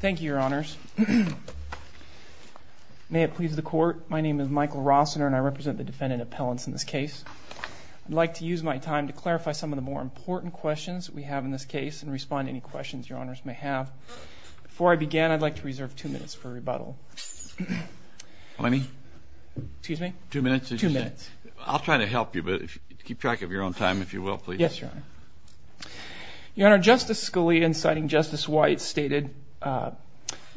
Thank you, Your Honors. May it please the Court, my name is Michael Rossiner and I represent the defendant appellants in this case. I'd like to use my time to clarify some of the more important questions we have in this case and respond to any questions Your Honors may have. Before I begin, I'd like to reserve two minutes for rebuttal. Let me? Excuse me? Two minutes? Two minutes. I'll try to help you, but keep track of your own time, if you will, please. Yes, Your Honor. Your Honor, Justice Scalia, inciting Justice White, stated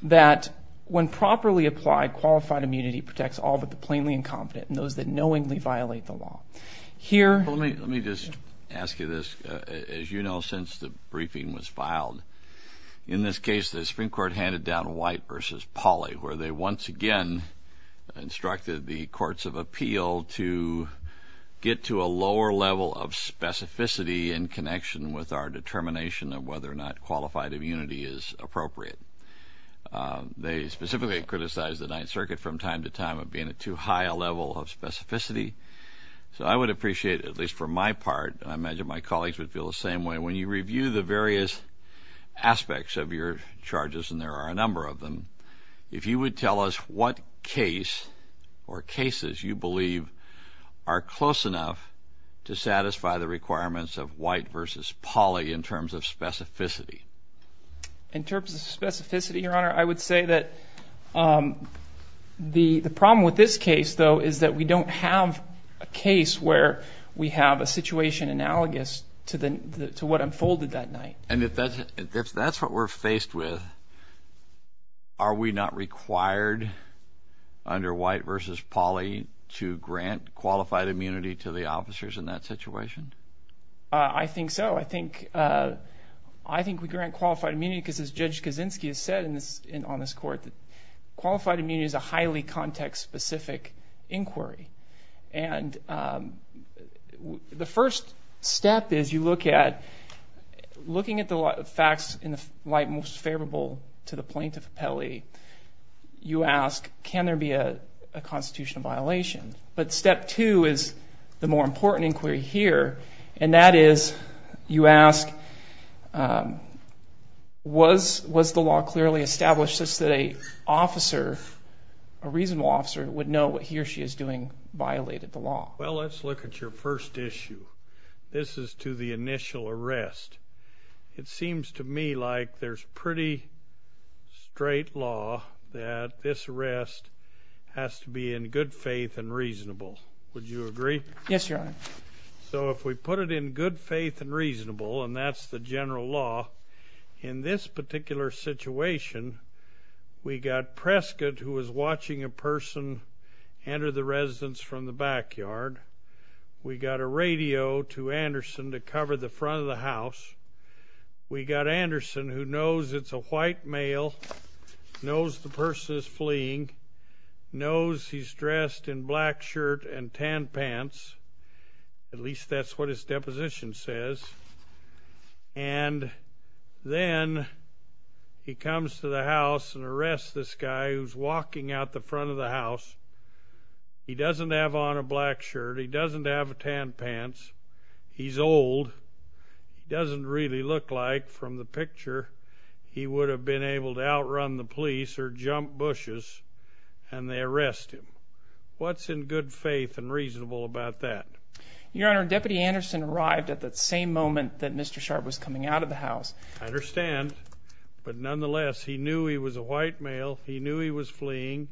that, when properly applied, qualified immunity protects all but the plainly incompetent and those that knowingly violate the law. Here- Let me just ask you this. As you know, since the briefing was filed, in this case the Supreme Court handed down White v. Pauley, where they once again instructed the courts of appeal to get to a lower level of specificity in connection with our determination of whether or not qualified immunity is appropriate. They specifically criticized the Ninth Circuit from time to time of being at too high a level of specificity. So I would appreciate, at least for my part, and I imagine my colleagues would feel the same way, when you review the various aspects of your charges, and there are a number of them, if you would tell us what case or cases you believe are close enough to satisfy the requirements of White v. Pauley in terms of specificity. In terms of specificity, Your Honor, I would say that the problem with this case, though, is that we don't have a case where we have a situation analogous to what unfolded that night. And if that's what we're faced with, are we not required under White v. Pauley to grant qualified immunity to the officers in that situation? I think so. I think we grant qualified immunity because as Judge Kaczynski has said on this court, qualified immunity is a highly context-specific inquiry. And the first step is you look at the facts in the light most favorable to the plaintiff, Pauley. You ask, can there be a constitutional violation? But step two is the more important inquiry here, and that is you ask, was the law clearly established such that an officer, a reasonable officer, would know what he or she is doing violated the law? Well, let's look at your first issue. This is to the initial arrest. It seems to me like there's pretty straight law that this arrest has to be in good faith and reasonable. Would you agree? Yes, Your Honor. So if we put it in good faith and reasonable, and that's the general law, in this particular situation, we got Prescott, who was watching a person enter the residence from the backyard. We got a radio to Anderson to cover the front of the house. We got Anderson, who knows it's a white male, knows the person is fleeing, knows he's dressed in black shirt and tan pants. At least that's what his deposition says. And then he comes to the house and arrests this guy who's walking out the front of the house. He doesn't have on a black shirt. He doesn't have tan pants. He's old. He doesn't really look like, from the picture, he would have been able to outrun the police or jump bushes, and they arrest him. What's in good faith and reasonable about that? Your Honor, Deputy Anderson arrived at that same moment that Mr. Sharp was coming out of the house. I understand. But nonetheless, he knew he was a white male. He knew he was fleeing.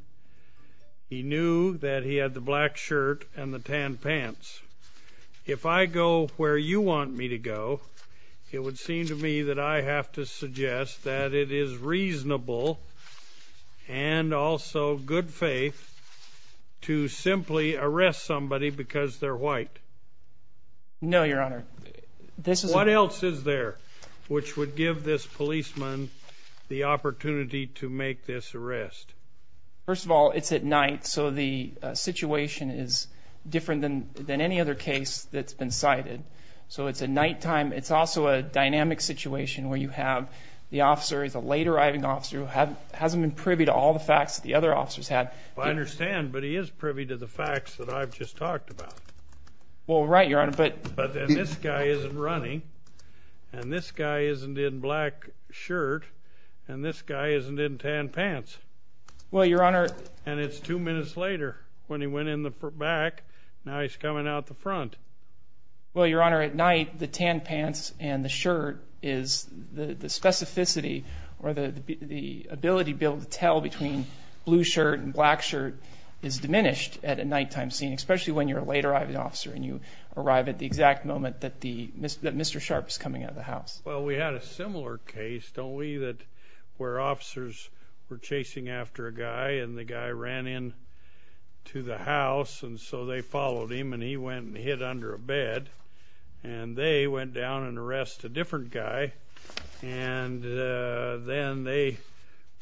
He knew that he had the black shirt and the tan pants. If I go where you want me to go, it would seem to me that I have to suggest that it is reasonable and also good faith to simply arrest somebody because they're white. No, Your Honor. This is... What else is there which would give this policeman the opportunity to make this arrest? First of all, it's at night, so the situation is different than any other case that's been cited. So it's at nighttime. It's also a dynamic situation where you have the officer, a late arriving officer, who hasn't been privy to all the facts that the other officers have. I understand, but he is privy to the facts that I've just talked about. Well, right, Your Honor, but... But then this guy isn't running, and this guy isn't in black shirt, and this guy isn't in tan pants. Well, Your Honor... And it's two minutes later when he went in the back. Now he's coming out the front. Well, Your Honor, at night, the tan pants and the shirt is... The specificity or the blue shirt and black shirt is diminished at a nighttime scene, especially when you're a late arriving officer and you arrive at the exact moment that Mr. Sharp is coming out of the house. Well, we had a similar case, don't we, where officers were chasing after a guy, and the guy ran into the house, and so they followed him, and he went and hid under a bed. And they went down and arrested a different guy, and then they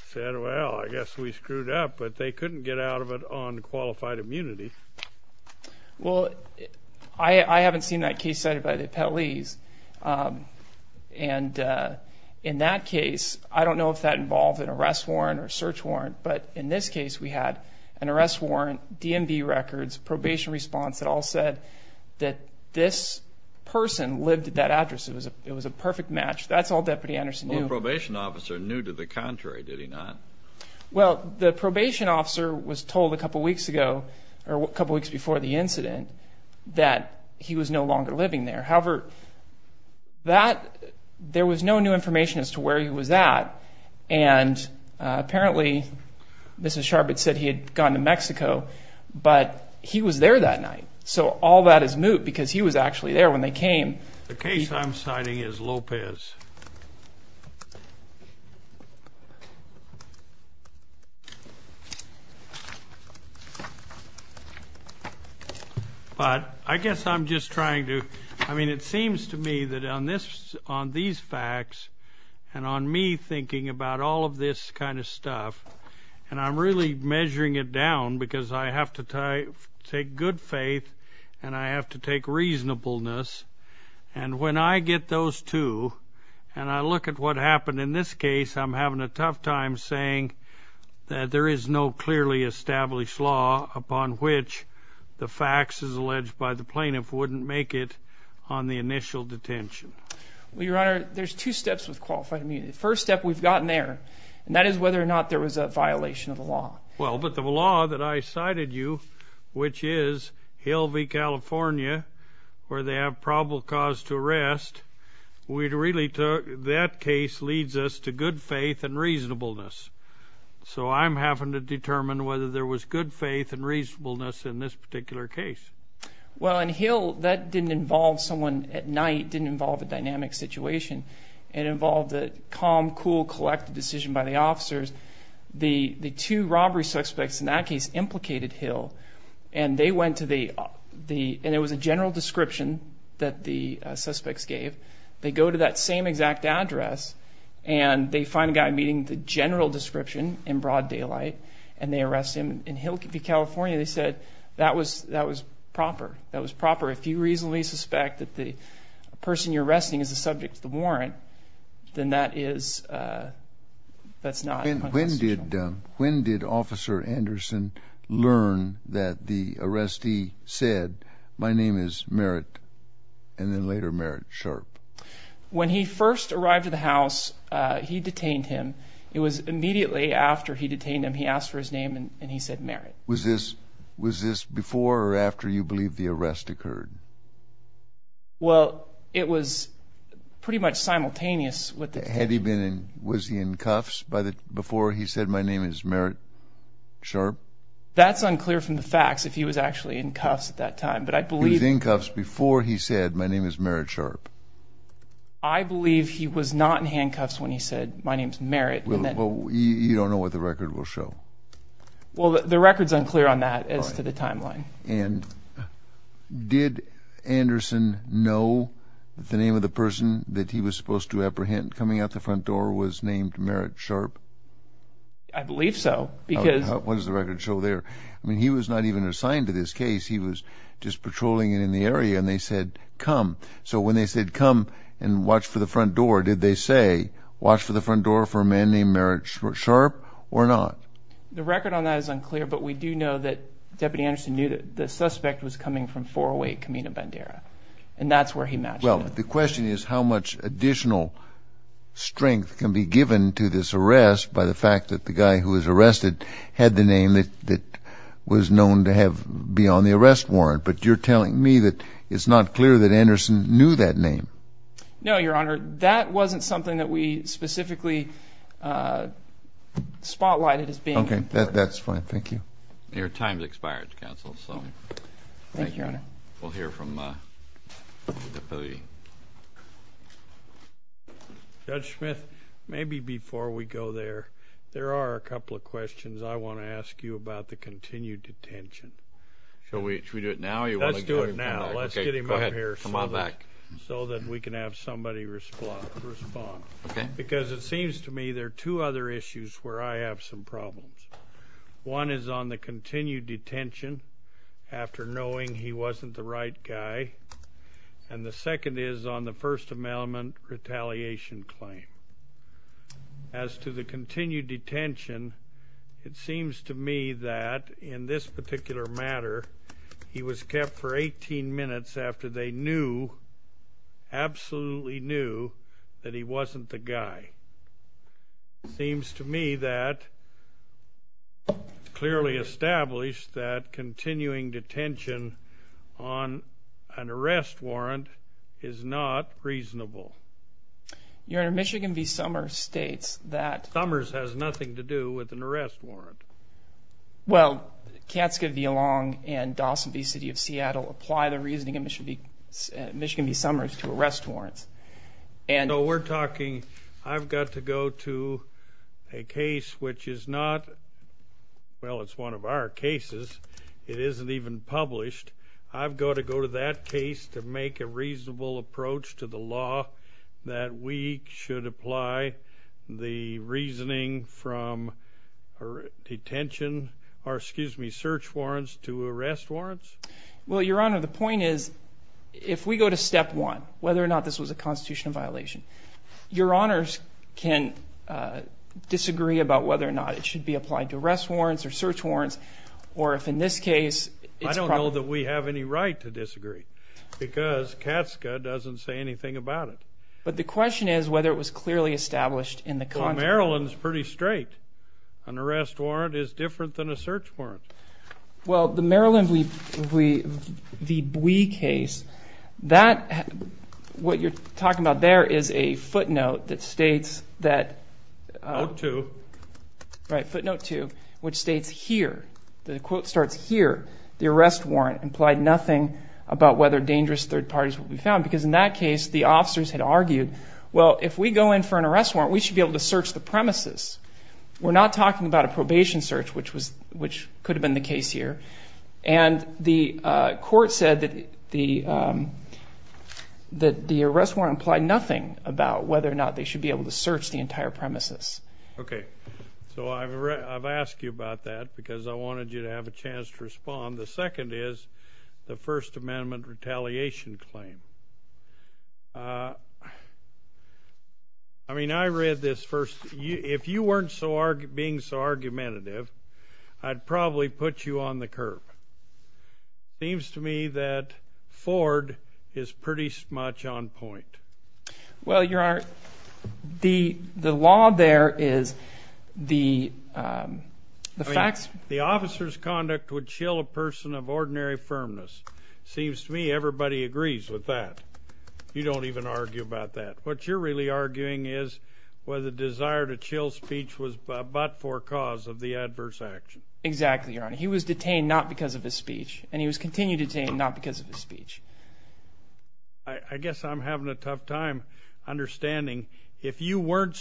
said, well, I guess we screwed up, but they couldn't get out of it on qualified immunity. Well, I haven't seen that case cited by the appellees, and in that case, I don't know if that involved an arrest warrant or a search warrant, but in this case, we had an arrest warrant, and the person lived at that address. It was a perfect match. That's all Deputy Anderson knew. Well, the probation officer knew to the contrary, did he not? Well, the probation officer was told a couple weeks ago, or a couple weeks before the incident, that he was no longer living there. However, there was no new information as to where he was at, and apparently, Mr. Sharp had said he had gone to Mexico, but he was there that came. The case I'm citing is Lopez. But I guess I'm just trying to, I mean, it seems to me that on these facts, and on me thinking about all of this kind of stuff, and I'm really measuring it down because I have to take good faith, and I have to take reasonableness, and when I get those two, and I look at what happened in this case, I'm having a tough time saying that there is no clearly established law upon which the facts as alleged by the plaintiff wouldn't make it on the initial detention. Well, Your Honor, there's two steps with qualified immunity. The first step, we've gotten there, and that is whether or not there was a violation of the law. Well, but the law that I cited you, which is Hill v. California, where they have probable cause to arrest, that case leads us to good faith and reasonableness. So I'm having to determine whether there was good faith and reasonableness in this particular case. Well, in Hill, that didn't involve someone at night, didn't involve a dynamic situation, it involved a calm, cool, collected decision by the officers. The two robbery suspects in that case implicated Hill, and they went to the, and it was a general description that the suspects gave. They go to that same exact address, and they find a guy meeting the general description in broad daylight, and they arrest him. In Hill v. California, they said that was proper. That was proper. If you reasonably suspect that the person you're arresting is subject to the warrant, then that is, that's not constitutional. When did, when did Officer Anderson learn that the arrestee said, my name is Merritt, and then later Merritt Sharp? When he first arrived at the house, he detained him. It was immediately after he detained him, he asked for his name, and he said Merritt. Was this, was this before or after you believe the arrest occurred? Well, it was pretty much simultaneous with the... Had he been in, was he in cuffs by the, before he said, my name is Merritt Sharp? That's unclear from the facts, if he was actually in cuffs at that time, but I believe... He was in cuffs before he said, my name is Merritt Sharp. I believe he was not in handcuffs when he said, my name is Merritt, and then... Well, you don't know what the record will show. Well, the record's unclear on that as to the timeline. And did Anderson know that the name of the person that he was supposed to apprehend coming out the front door was named Merritt Sharp? I believe so, because... What does the record show there? I mean, he was not even assigned to this case. He was just patrolling it in the area, and they said, come. So when they said, come and watch for the front door, did they say, watch for the front door for a man named Merritt Sharp, or not? The record on that is unclear, but we do know that Deputy Anderson knew that the suspect was coming from 408 Camino Bandera. And that's where he matched it. Well, the question is how much additional strength can be given to this arrest by the fact that the guy who was arrested had the name that was known to be on the arrest warrant. But you're telling me that it's not clear that Anderson knew that name. No, Your Honor. That wasn't something that we specifically spotlighted as being... Okay, that's fine. Thank you. Your time's expired, counsel, so... Thank you, Your Honor. We'll hear from the deputy. Judge Smith, maybe before we go there, there are a couple of questions I want to ask you about the continued detention. Shall we do it now, or do you want to... Let's do it now. Let's get him up here... Come on back. ...so that we can have somebody respond. Okay. Because it seems to me there are two other issues where I have some problems. One is on the continued detention, after knowing he wasn't the right guy. And the second is on the First Amendment retaliation claim. As to the continued detention, it seems to me that in this particular matter, he was kept for 18 minutes after they knew, absolutely knew, that he wasn't the guy. Seems to me that clearly established that continuing detention on an arrest warrant is not reasonable. Your Honor, Michigan v. Summers states that... Summers has nothing to do with an arrest warrant. Well, Katzke v. Long and Dawson v. City of Seattle apply the reasoning in Michigan v. Summers to arrest warrants. So we're talking, I've got to go to a case which is not... Well, it's one of our cases. It isn't even published. I've got to go to that case to make a reasonable approach to the law that we should apply the or, excuse me, search warrants to arrest warrants. Well, Your Honor, the point is, if we go to step one, whether or not this was a constitutional violation, Your Honors can disagree about whether or not it should be applied to arrest warrants or search warrants, or if in this case... I don't know that we have any right to disagree, because Katzke doesn't say anything about it. But the question is whether it was clearly established in the... Maryland's pretty straight. An arrest warrant is different than a search warrant. Well, the Maryland v. Bowie case, what you're talking about there is a footnote that states that... Note two. Right, footnote two, which states here, the quote starts here, the arrest warrant implied nothing about whether dangerous third parties will be found, because in that case, the officers had argued, well, if we go in for an arrest warrant, we should be able to search the premises. We're not talking about a probation search, which could have been the case here. And the court said that the arrest warrant implied nothing about whether or not they should be able to search the entire premises. Okay. So I've asked you about that because I wanted you to have a chance to respond. The second is the First Amendment retaliation claim. I mean, I read this first. If you weren't being so argumentative, I'd probably put you on the curb. Seems to me that Ford is pretty much on point. Well, Your Honor, the law there is the facts... The officer's conduct would chill a person of ordinary firmness. Seems to me everybody agrees with that. You don't even argue about that. What you're really arguing is whether the desire to chill speech was but for cause of the adverse action. Exactly, Your Honor. He was detained not because of his speech, and he was continued detained not because of his speech. I guess I'm having a tough time understanding. If you weren't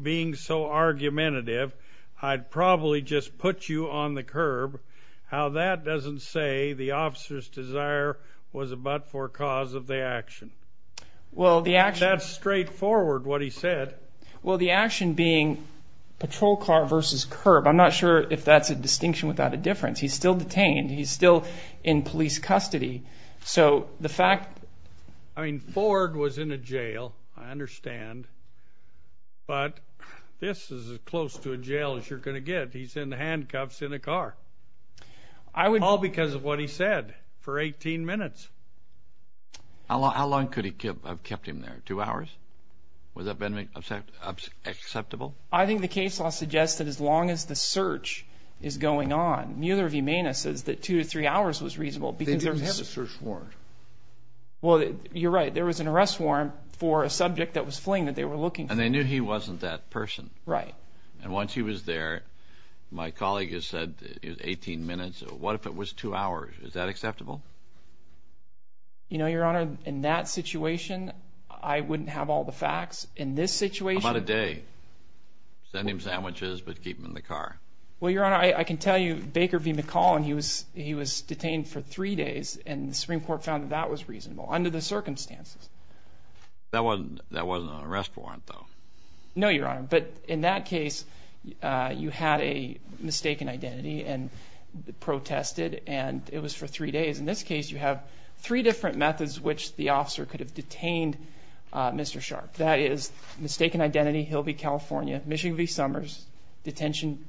being so argumentative, I'd probably just put you on the curb. How that doesn't say the officer's desire was but for cause of the action. Well, the action... That's straightforward what he said. Well, the action being patrol car versus curb. I'm not sure if that's a distinction without a difference. He's still detained. He's still in police custody. So the fact... I mean, Ford was in a jail, I understand. But this is as close to a jail as you're going to get. He's in handcuffs in a car. I would... All because of what he said for 18 minutes. How long could he have kept him there? Two hours? Was that acceptable? I think the case law suggests that as long as the search is going on, neither of you may notice that two to three hours was reasonable because... They didn't have a search warrant. Well, you're right. There was an arrest warrant for a subject that was fleeing that they were looking for. And they knew he wasn't that person. Right. And once he was there, my colleague has said it was 18 minutes. What if it was two hours? Is that acceptable? You know, Your Honor, in that situation, I wouldn't have all the facts. In this situation... How about a day? Send him sandwiches, but keep him in the car. Well, Your Honor, I can tell you Baker v. McCall, and he was detained for three days, and the Supreme Court found that that was reasonable under the circumstances. That wasn't an arrest warrant, though. No, Your Honor. But in that case, you had a mistaken identity and protested. And it was for three days. In this case, you have three different methods which the officer could have detained Mr. Sharp. That is mistaken identity, Hilby, California. Michigan v. Summers, detention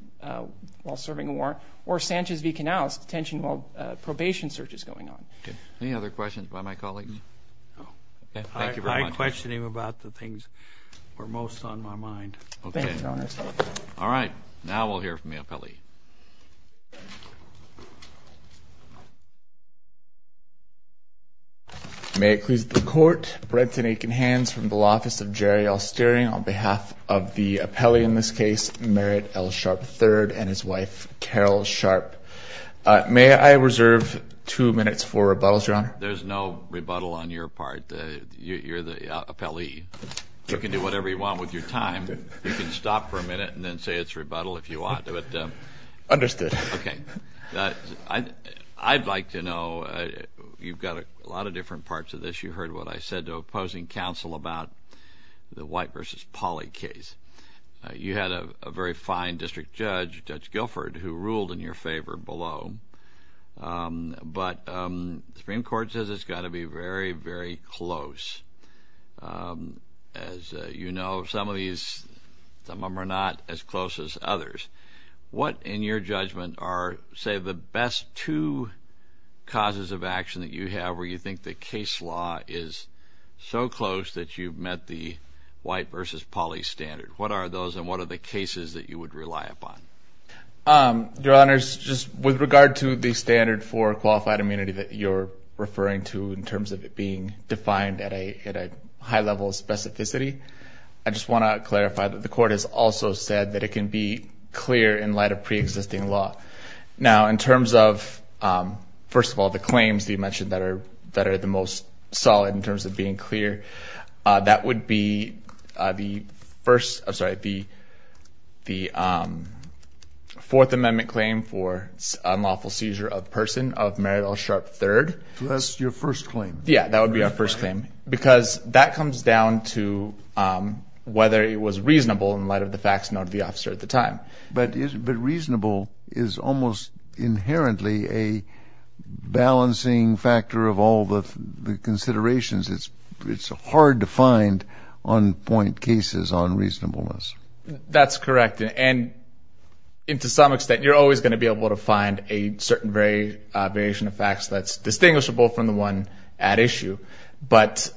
while serving a warrant. Or Sanchez v. Canales, detention while probation search is going on. Any other questions by my colleagues? I question him about the things that were most on my mind. Thank you, Your Honor. All right. Now we'll hear from the appellee. May it please the Court, Brenton Aiken-Hans from the law office of Jerry L. Sterling on behalf of the appellee in this case, Merritt L. Sharp III and his wife, Carol Sharp. May I reserve two minutes for rebuttals, Your Honor? There's no rebuttal on your part. You're the appellee. You can do whatever you want with your time. You can stop for a minute and then say it's rebuttal if you want. Understood. Okay. I'd like to know, you've got a lot of different parts of this. You heard what I said to opposing counsel about the White v. Pauley case. You had a very fine district judge, Judge Guilford, who ruled in your favor below. But the Supreme Court says it's got to be very, very close. As you know, some of these, some of them are not as close as others. What, in your judgment, are, say, the best two causes of action that you have where you think the case law is so close that you've met the White v. Pauley standard? What are those and what are the cases that you would rely upon? Your Honors, just with regard to the standard for qualified immunity that you're referring to in terms of it being defined at a high level of specificity, I just want to clarify that the court has also said that it can be clear in light of pre-existing law. Now, in terms of, first of all, the claims that you mentioned that are the most solid in terms of being clear, that would be the first, I'm sorry, the Fourth Amendment claim for unlawful seizure of person of Merrill Sharp III. That's your first claim? Yeah, that would be our first claim, because that comes down to whether it was reasonable in light of the facts known to the officer at the time. But reasonable is almost inherently a balancing factor of all the considerations. It's hard to find on-point cases on reasonableness. That's correct, and to some extent, you're always going to be able to find a certain variation of facts that's distinguishable from the one at issue. But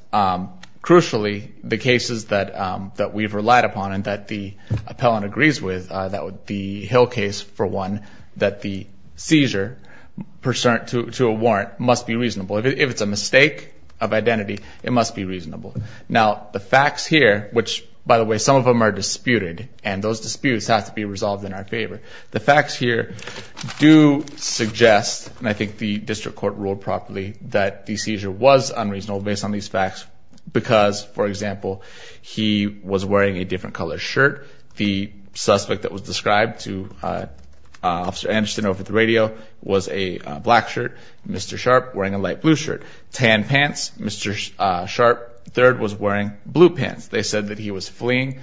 crucially, the cases that we've relied upon and that the appellant agrees with, that would be Hill case for one, that the seizure to a warrant must be reasonable. If it's a mistake of identity, it must be reasonable. Now, the facts here, which, by the way, some of them are disputed, and those disputes have to be resolved in our favor. The facts here do suggest, and I think the district court ruled properly, that the seizure was unreasonable based on these facts, because, for example, he was wearing a different color shirt. The suspect that was described to Officer Anderson over the radio was a black shirt, Mr. Sharp wearing a light blue shirt. Tan pants, Mr. Sharp III was wearing blue pants. They said that he was fleeing.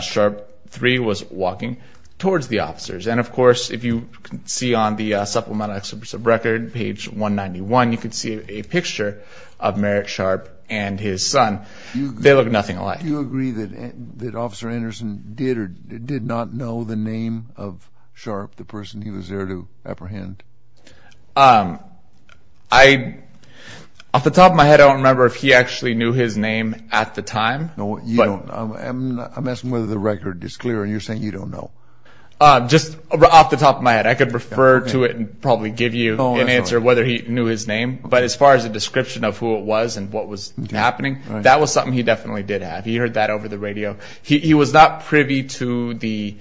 Sharp III was walking towards the officers. And, of course, if you see on the supplemental record, page 191, you can see a picture of Merrick Sharp and his son. They look nothing alike. Do you agree that Officer Anderson did or did not know the name of Sharp, the person he was there to apprehend? Off the top of my head, I don't remember if he actually knew his name at the time. I'm asking whether the record is clear, and you're saying you don't know. Just off the top of my head, I could refer to it and probably give you an answer whether he knew his name. But as far as the description of who it was and what was happening, that was something he definitely did have. He heard that over the radio. He was not privy to the...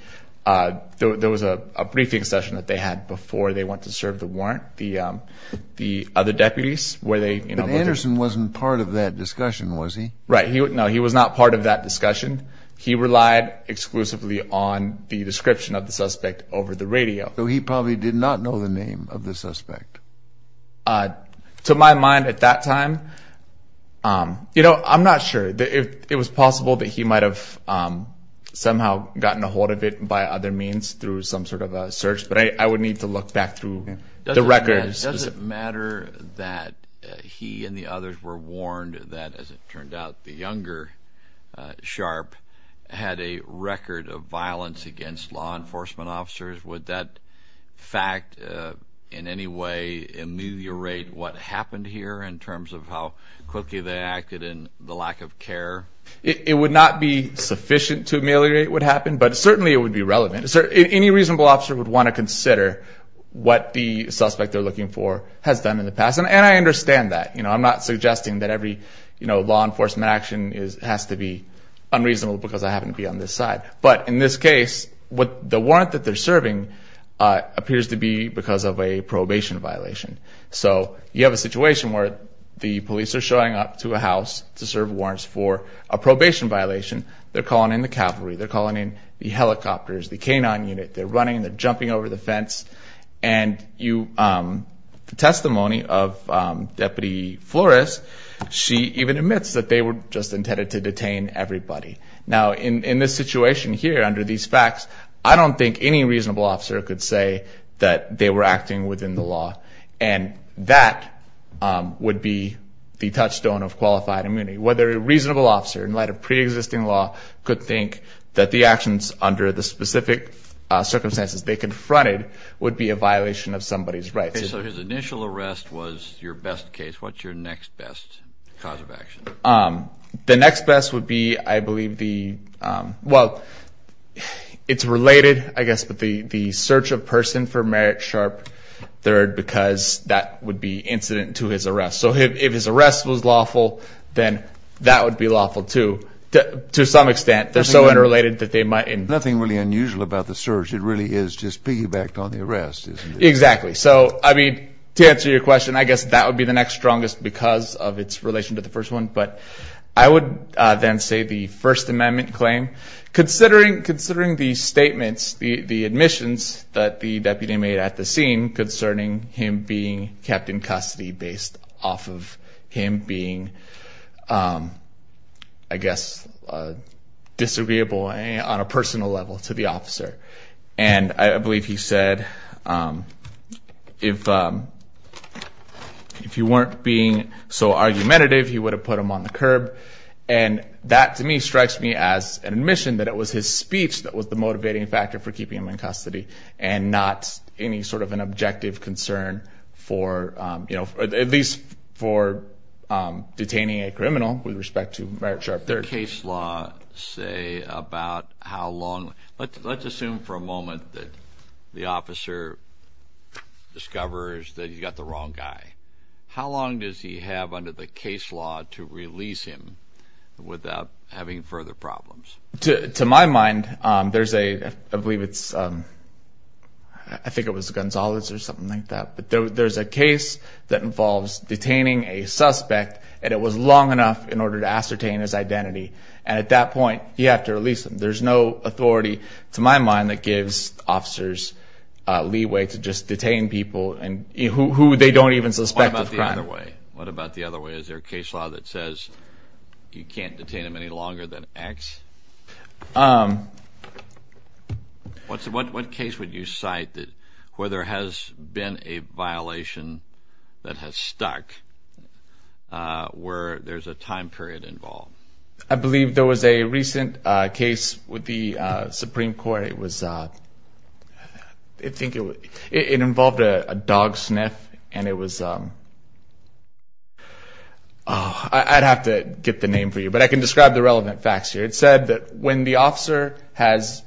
There was a briefing session that they had before they went to serve the warrant, the other deputies, where they... But Anderson wasn't part of that discussion, was he? Right. No, he was not part of that discussion. He relied exclusively on the description of the suspect over the radio. So he probably did not know the name of the suspect? To my mind, at that time... I'm not sure. It was possible that he might have somehow gotten a hold of it by other means through some sort of a search, but I would need to look back through the records. Does it matter that he and the others were warned that, as it turned out, the younger Sharp had a record of violence against law enforcement officers? Would that fact in any way ameliorate what happened here in terms of how quickly they acted in the lack of care? It would not be sufficient to ameliorate what happened, but certainly it would be relevant. Any reasonable officer would want to consider what the suspect they're looking for has done in the past. And I understand that. I'm not suggesting that every law enforcement action has to be unreasonable because I happen to be on this side. But in this case, the warrant that they're serving appears to be because of a probation violation. So you have a situation where the police are showing up to a house to serve warrants for a probation violation. They're calling in the cavalry. They're calling in the helicopters, the K-9 unit. They're running. They're jumping over the fence. And the testimony of Deputy Flores, she even admits that they were just intended to detain everybody. Now, in this situation here under these facts, I don't think any reasonable officer could say that they were acting within the law. And that would be the touchstone of qualified immunity. Whether a reasonable officer in light of pre-existing law could think that the actions under the specific circumstances they confronted would be a violation of somebody's rights. Okay. So his initial arrest was your best case. What's your next best cause of action? The next best would be, I believe, the... Well, it's related, I guess, but the search of person for Merritt Sharp III because that would be incident to his arrest. So if his arrest was lawful, then that would be lawful too. To some extent, they're so unrelated that they might... Nothing really unusual about the search. It really is just piggybacked on the arrest, isn't it? Exactly. So, I mean, to answer your question, I guess that would be the next strongest because of its relation to the first one. But I would then say the First Amendment claim, considering the statements, the admissions that the deputy made at the scene concerning him being kept in custody based off of him being, I guess, disagreeable on a personal level to the officer. And I believe he said, if you weren't being so argumentative, you would have put him on the curb. And that, to me, strikes me as an admission that it was his speech that was the motivating factor for keeping him in custody and not any sort of an objective concern for, at least for detaining a criminal with respect to Merritt Sharp III. Case law say about how long... Let's assume for a moment that the officer discovers that he's got the wrong guy. How long does he have under the case law to release him without having further problems? To my mind, there's a, I believe it's, I think it was Gonzalez or something like that. But there's a case that involves detaining a suspect and it was long enough in order to ascertain his identity. And at that point, you have to release him. There's no authority, to my mind, that gives officers leeway to just detain people and who they don't even suspect of crime. What about the other way? Is there a case law that says you can't detain him any longer than X? What case would you cite that where there has been a violation that has stuck, where there's a time period involved? I believe there was a recent case with the Supreme Court. It was, I think it involved a dog sniff. And it was, I'd have to get the name for you, but I can describe the relevant facts here. It said that when the officer has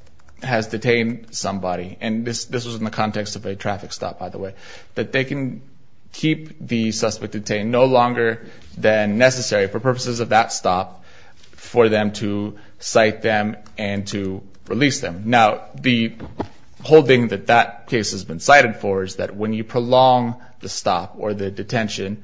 detained somebody, and this was in the context of a traffic stop, by the way, that they can keep the suspect detained no longer than necessary for purposes of that stop for them to cite them and to release them. Now, the whole thing that that case has been cited for is that when you prolong the stop or the detention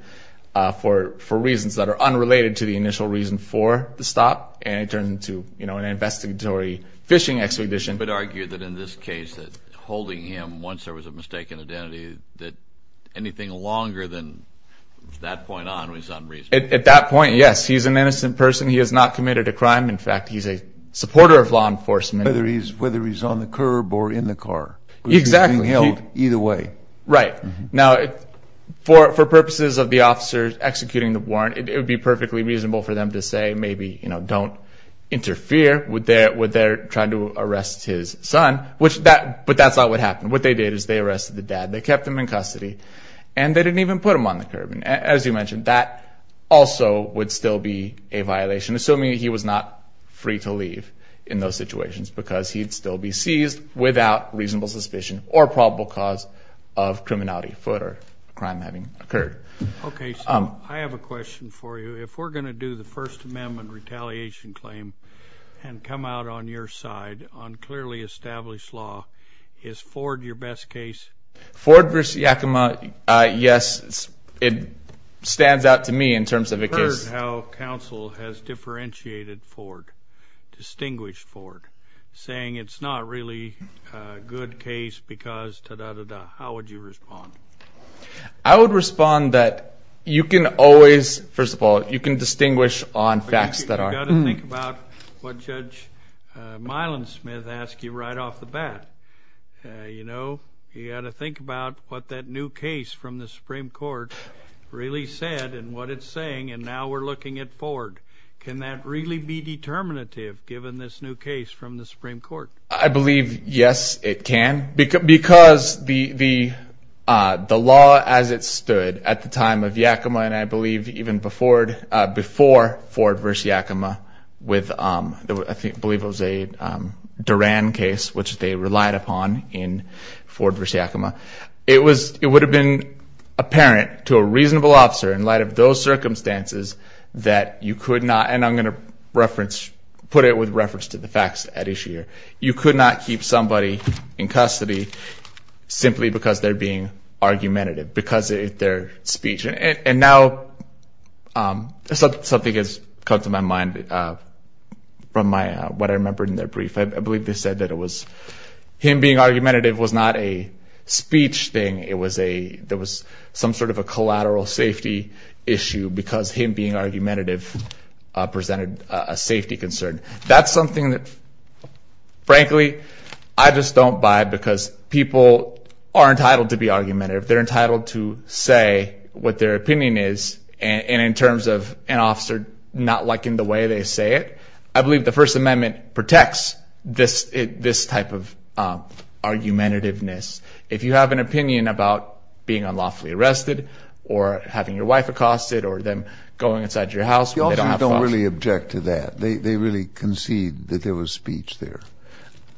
for reasons that are unrelated to the initial reason for the stop, and it turns into an investigatory fishing expedition. I would argue that in this case, that holding him once there was a mistaken identity, that anything longer than that point on was unreasonable. At that point, yes, he's an innocent person. He has not committed a crime. In fact, he's a supporter of law enforcement. Whether he's on the curb or in the car. Exactly. Being held either way. Right. Now, for purposes of the officers executing the warrant, it would be perfectly reasonable for them to say, maybe, don't interfere with their trying to arrest his son, but that's not what happened. What they did is they arrested the dad. They kept him in custody, and they didn't even put him on the curb. As you mentioned, that also would still be a violation, assuming he was not free to leave in those situations, because he'd still be seized without reasonable suspicion or probable cause of criminality, foot or crime having occurred. Okay, so I have a question for you. If we're going to do the First Amendment retaliation claim and come out on your side on clearly established law, is Ford your best case? Ford versus Yakima, yes, it stands out to me in terms of a case. I've heard how counsel has differentiated Ford, distinguished Ford, saying it's not really a good case because ta-da-da-da. How would you respond? I would respond that you can always, first of all, you can distinguish on facts that are. But you've got to think about what Judge Milan Smith asked you right off the bat. You know, you've got to think about what that new case from the Supreme Court really said and what it's saying. And now we're looking at Ford. Can that really be determinative, given this new case from the Supreme Court? I believe, yes, it can. Because the law as it stood at the time of Yakima and I believe even before Ford versus Yakima, I believe it was a Duran case, which they relied upon in Ford versus Yakima. It would have been apparent to a reasonable officer in light of those circumstances that you could not, and I'm going to reference, put it with reference to the facts at issue here. You could not keep somebody in custody simply because they're being argumentative, because of their speech. And now something has come to my mind from what I remembered in their brief. I believe they said that it was, him being argumentative was not a speech thing. It was a, there was some sort of a collateral safety issue because him being argumentative presented a safety concern. That's something that, frankly, I just don't buy because people are entitled to be argumentative. They're entitled to say what their opinion is. And in terms of an officer not liking the way they say it, I believe the First Amendment protects this type of argumentativeness. If you have an opinion about being unlawfully arrested or having your wife accosted or them going inside your house. The officers don't really object to that. They really concede that there was speech there.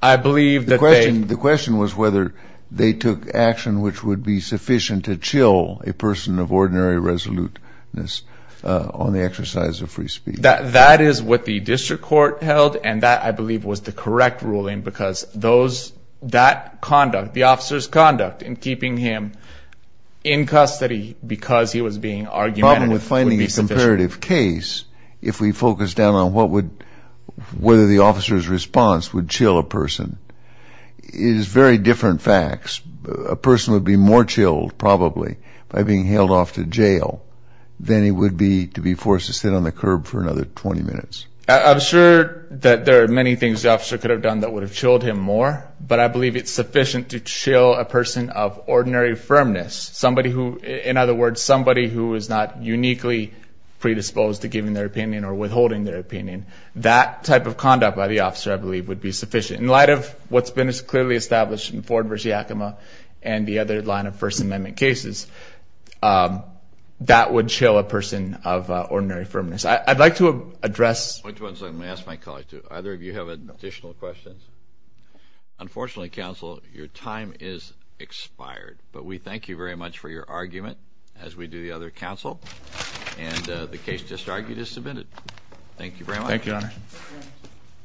I believe that they- The question was whether they took action which would be sufficient to chill a person of ordinary resoluteness on the exercise of free speech. That is what the district court held. And that, I believe, was the correct ruling because those, that conduct, the officer's conduct in keeping him in custody because he was being argumentative- Problem with finding a comparative case if we focus down on what would, whether the officer's response would chill a person is very different facts. A person would be more chilled probably by being held off to jail than he would be to be forced to sit on the curb for another 20 minutes. I'm sure that there are many things the officer could have done that would have chilled him more. But I believe it's sufficient to chill a person of ordinary firmness. Somebody who, in other words, somebody who is not uniquely predisposed to giving their opinion or withholding their opinion. That type of conduct by the officer, I believe, would be sufficient. In light of what's been clearly established in Ford v. Yakima and the other line of First Amendment cases, that would chill a person of ordinary firmness. I'd like to address- Point to one second. Let me ask my colleague, too. Either of you have additional questions? Unfortunately, counsel, your time is expired. But we thank you very much for your argument as we do the other counsel. And the case just argued is submitted. Thank you very much. Thank you, Your Honor.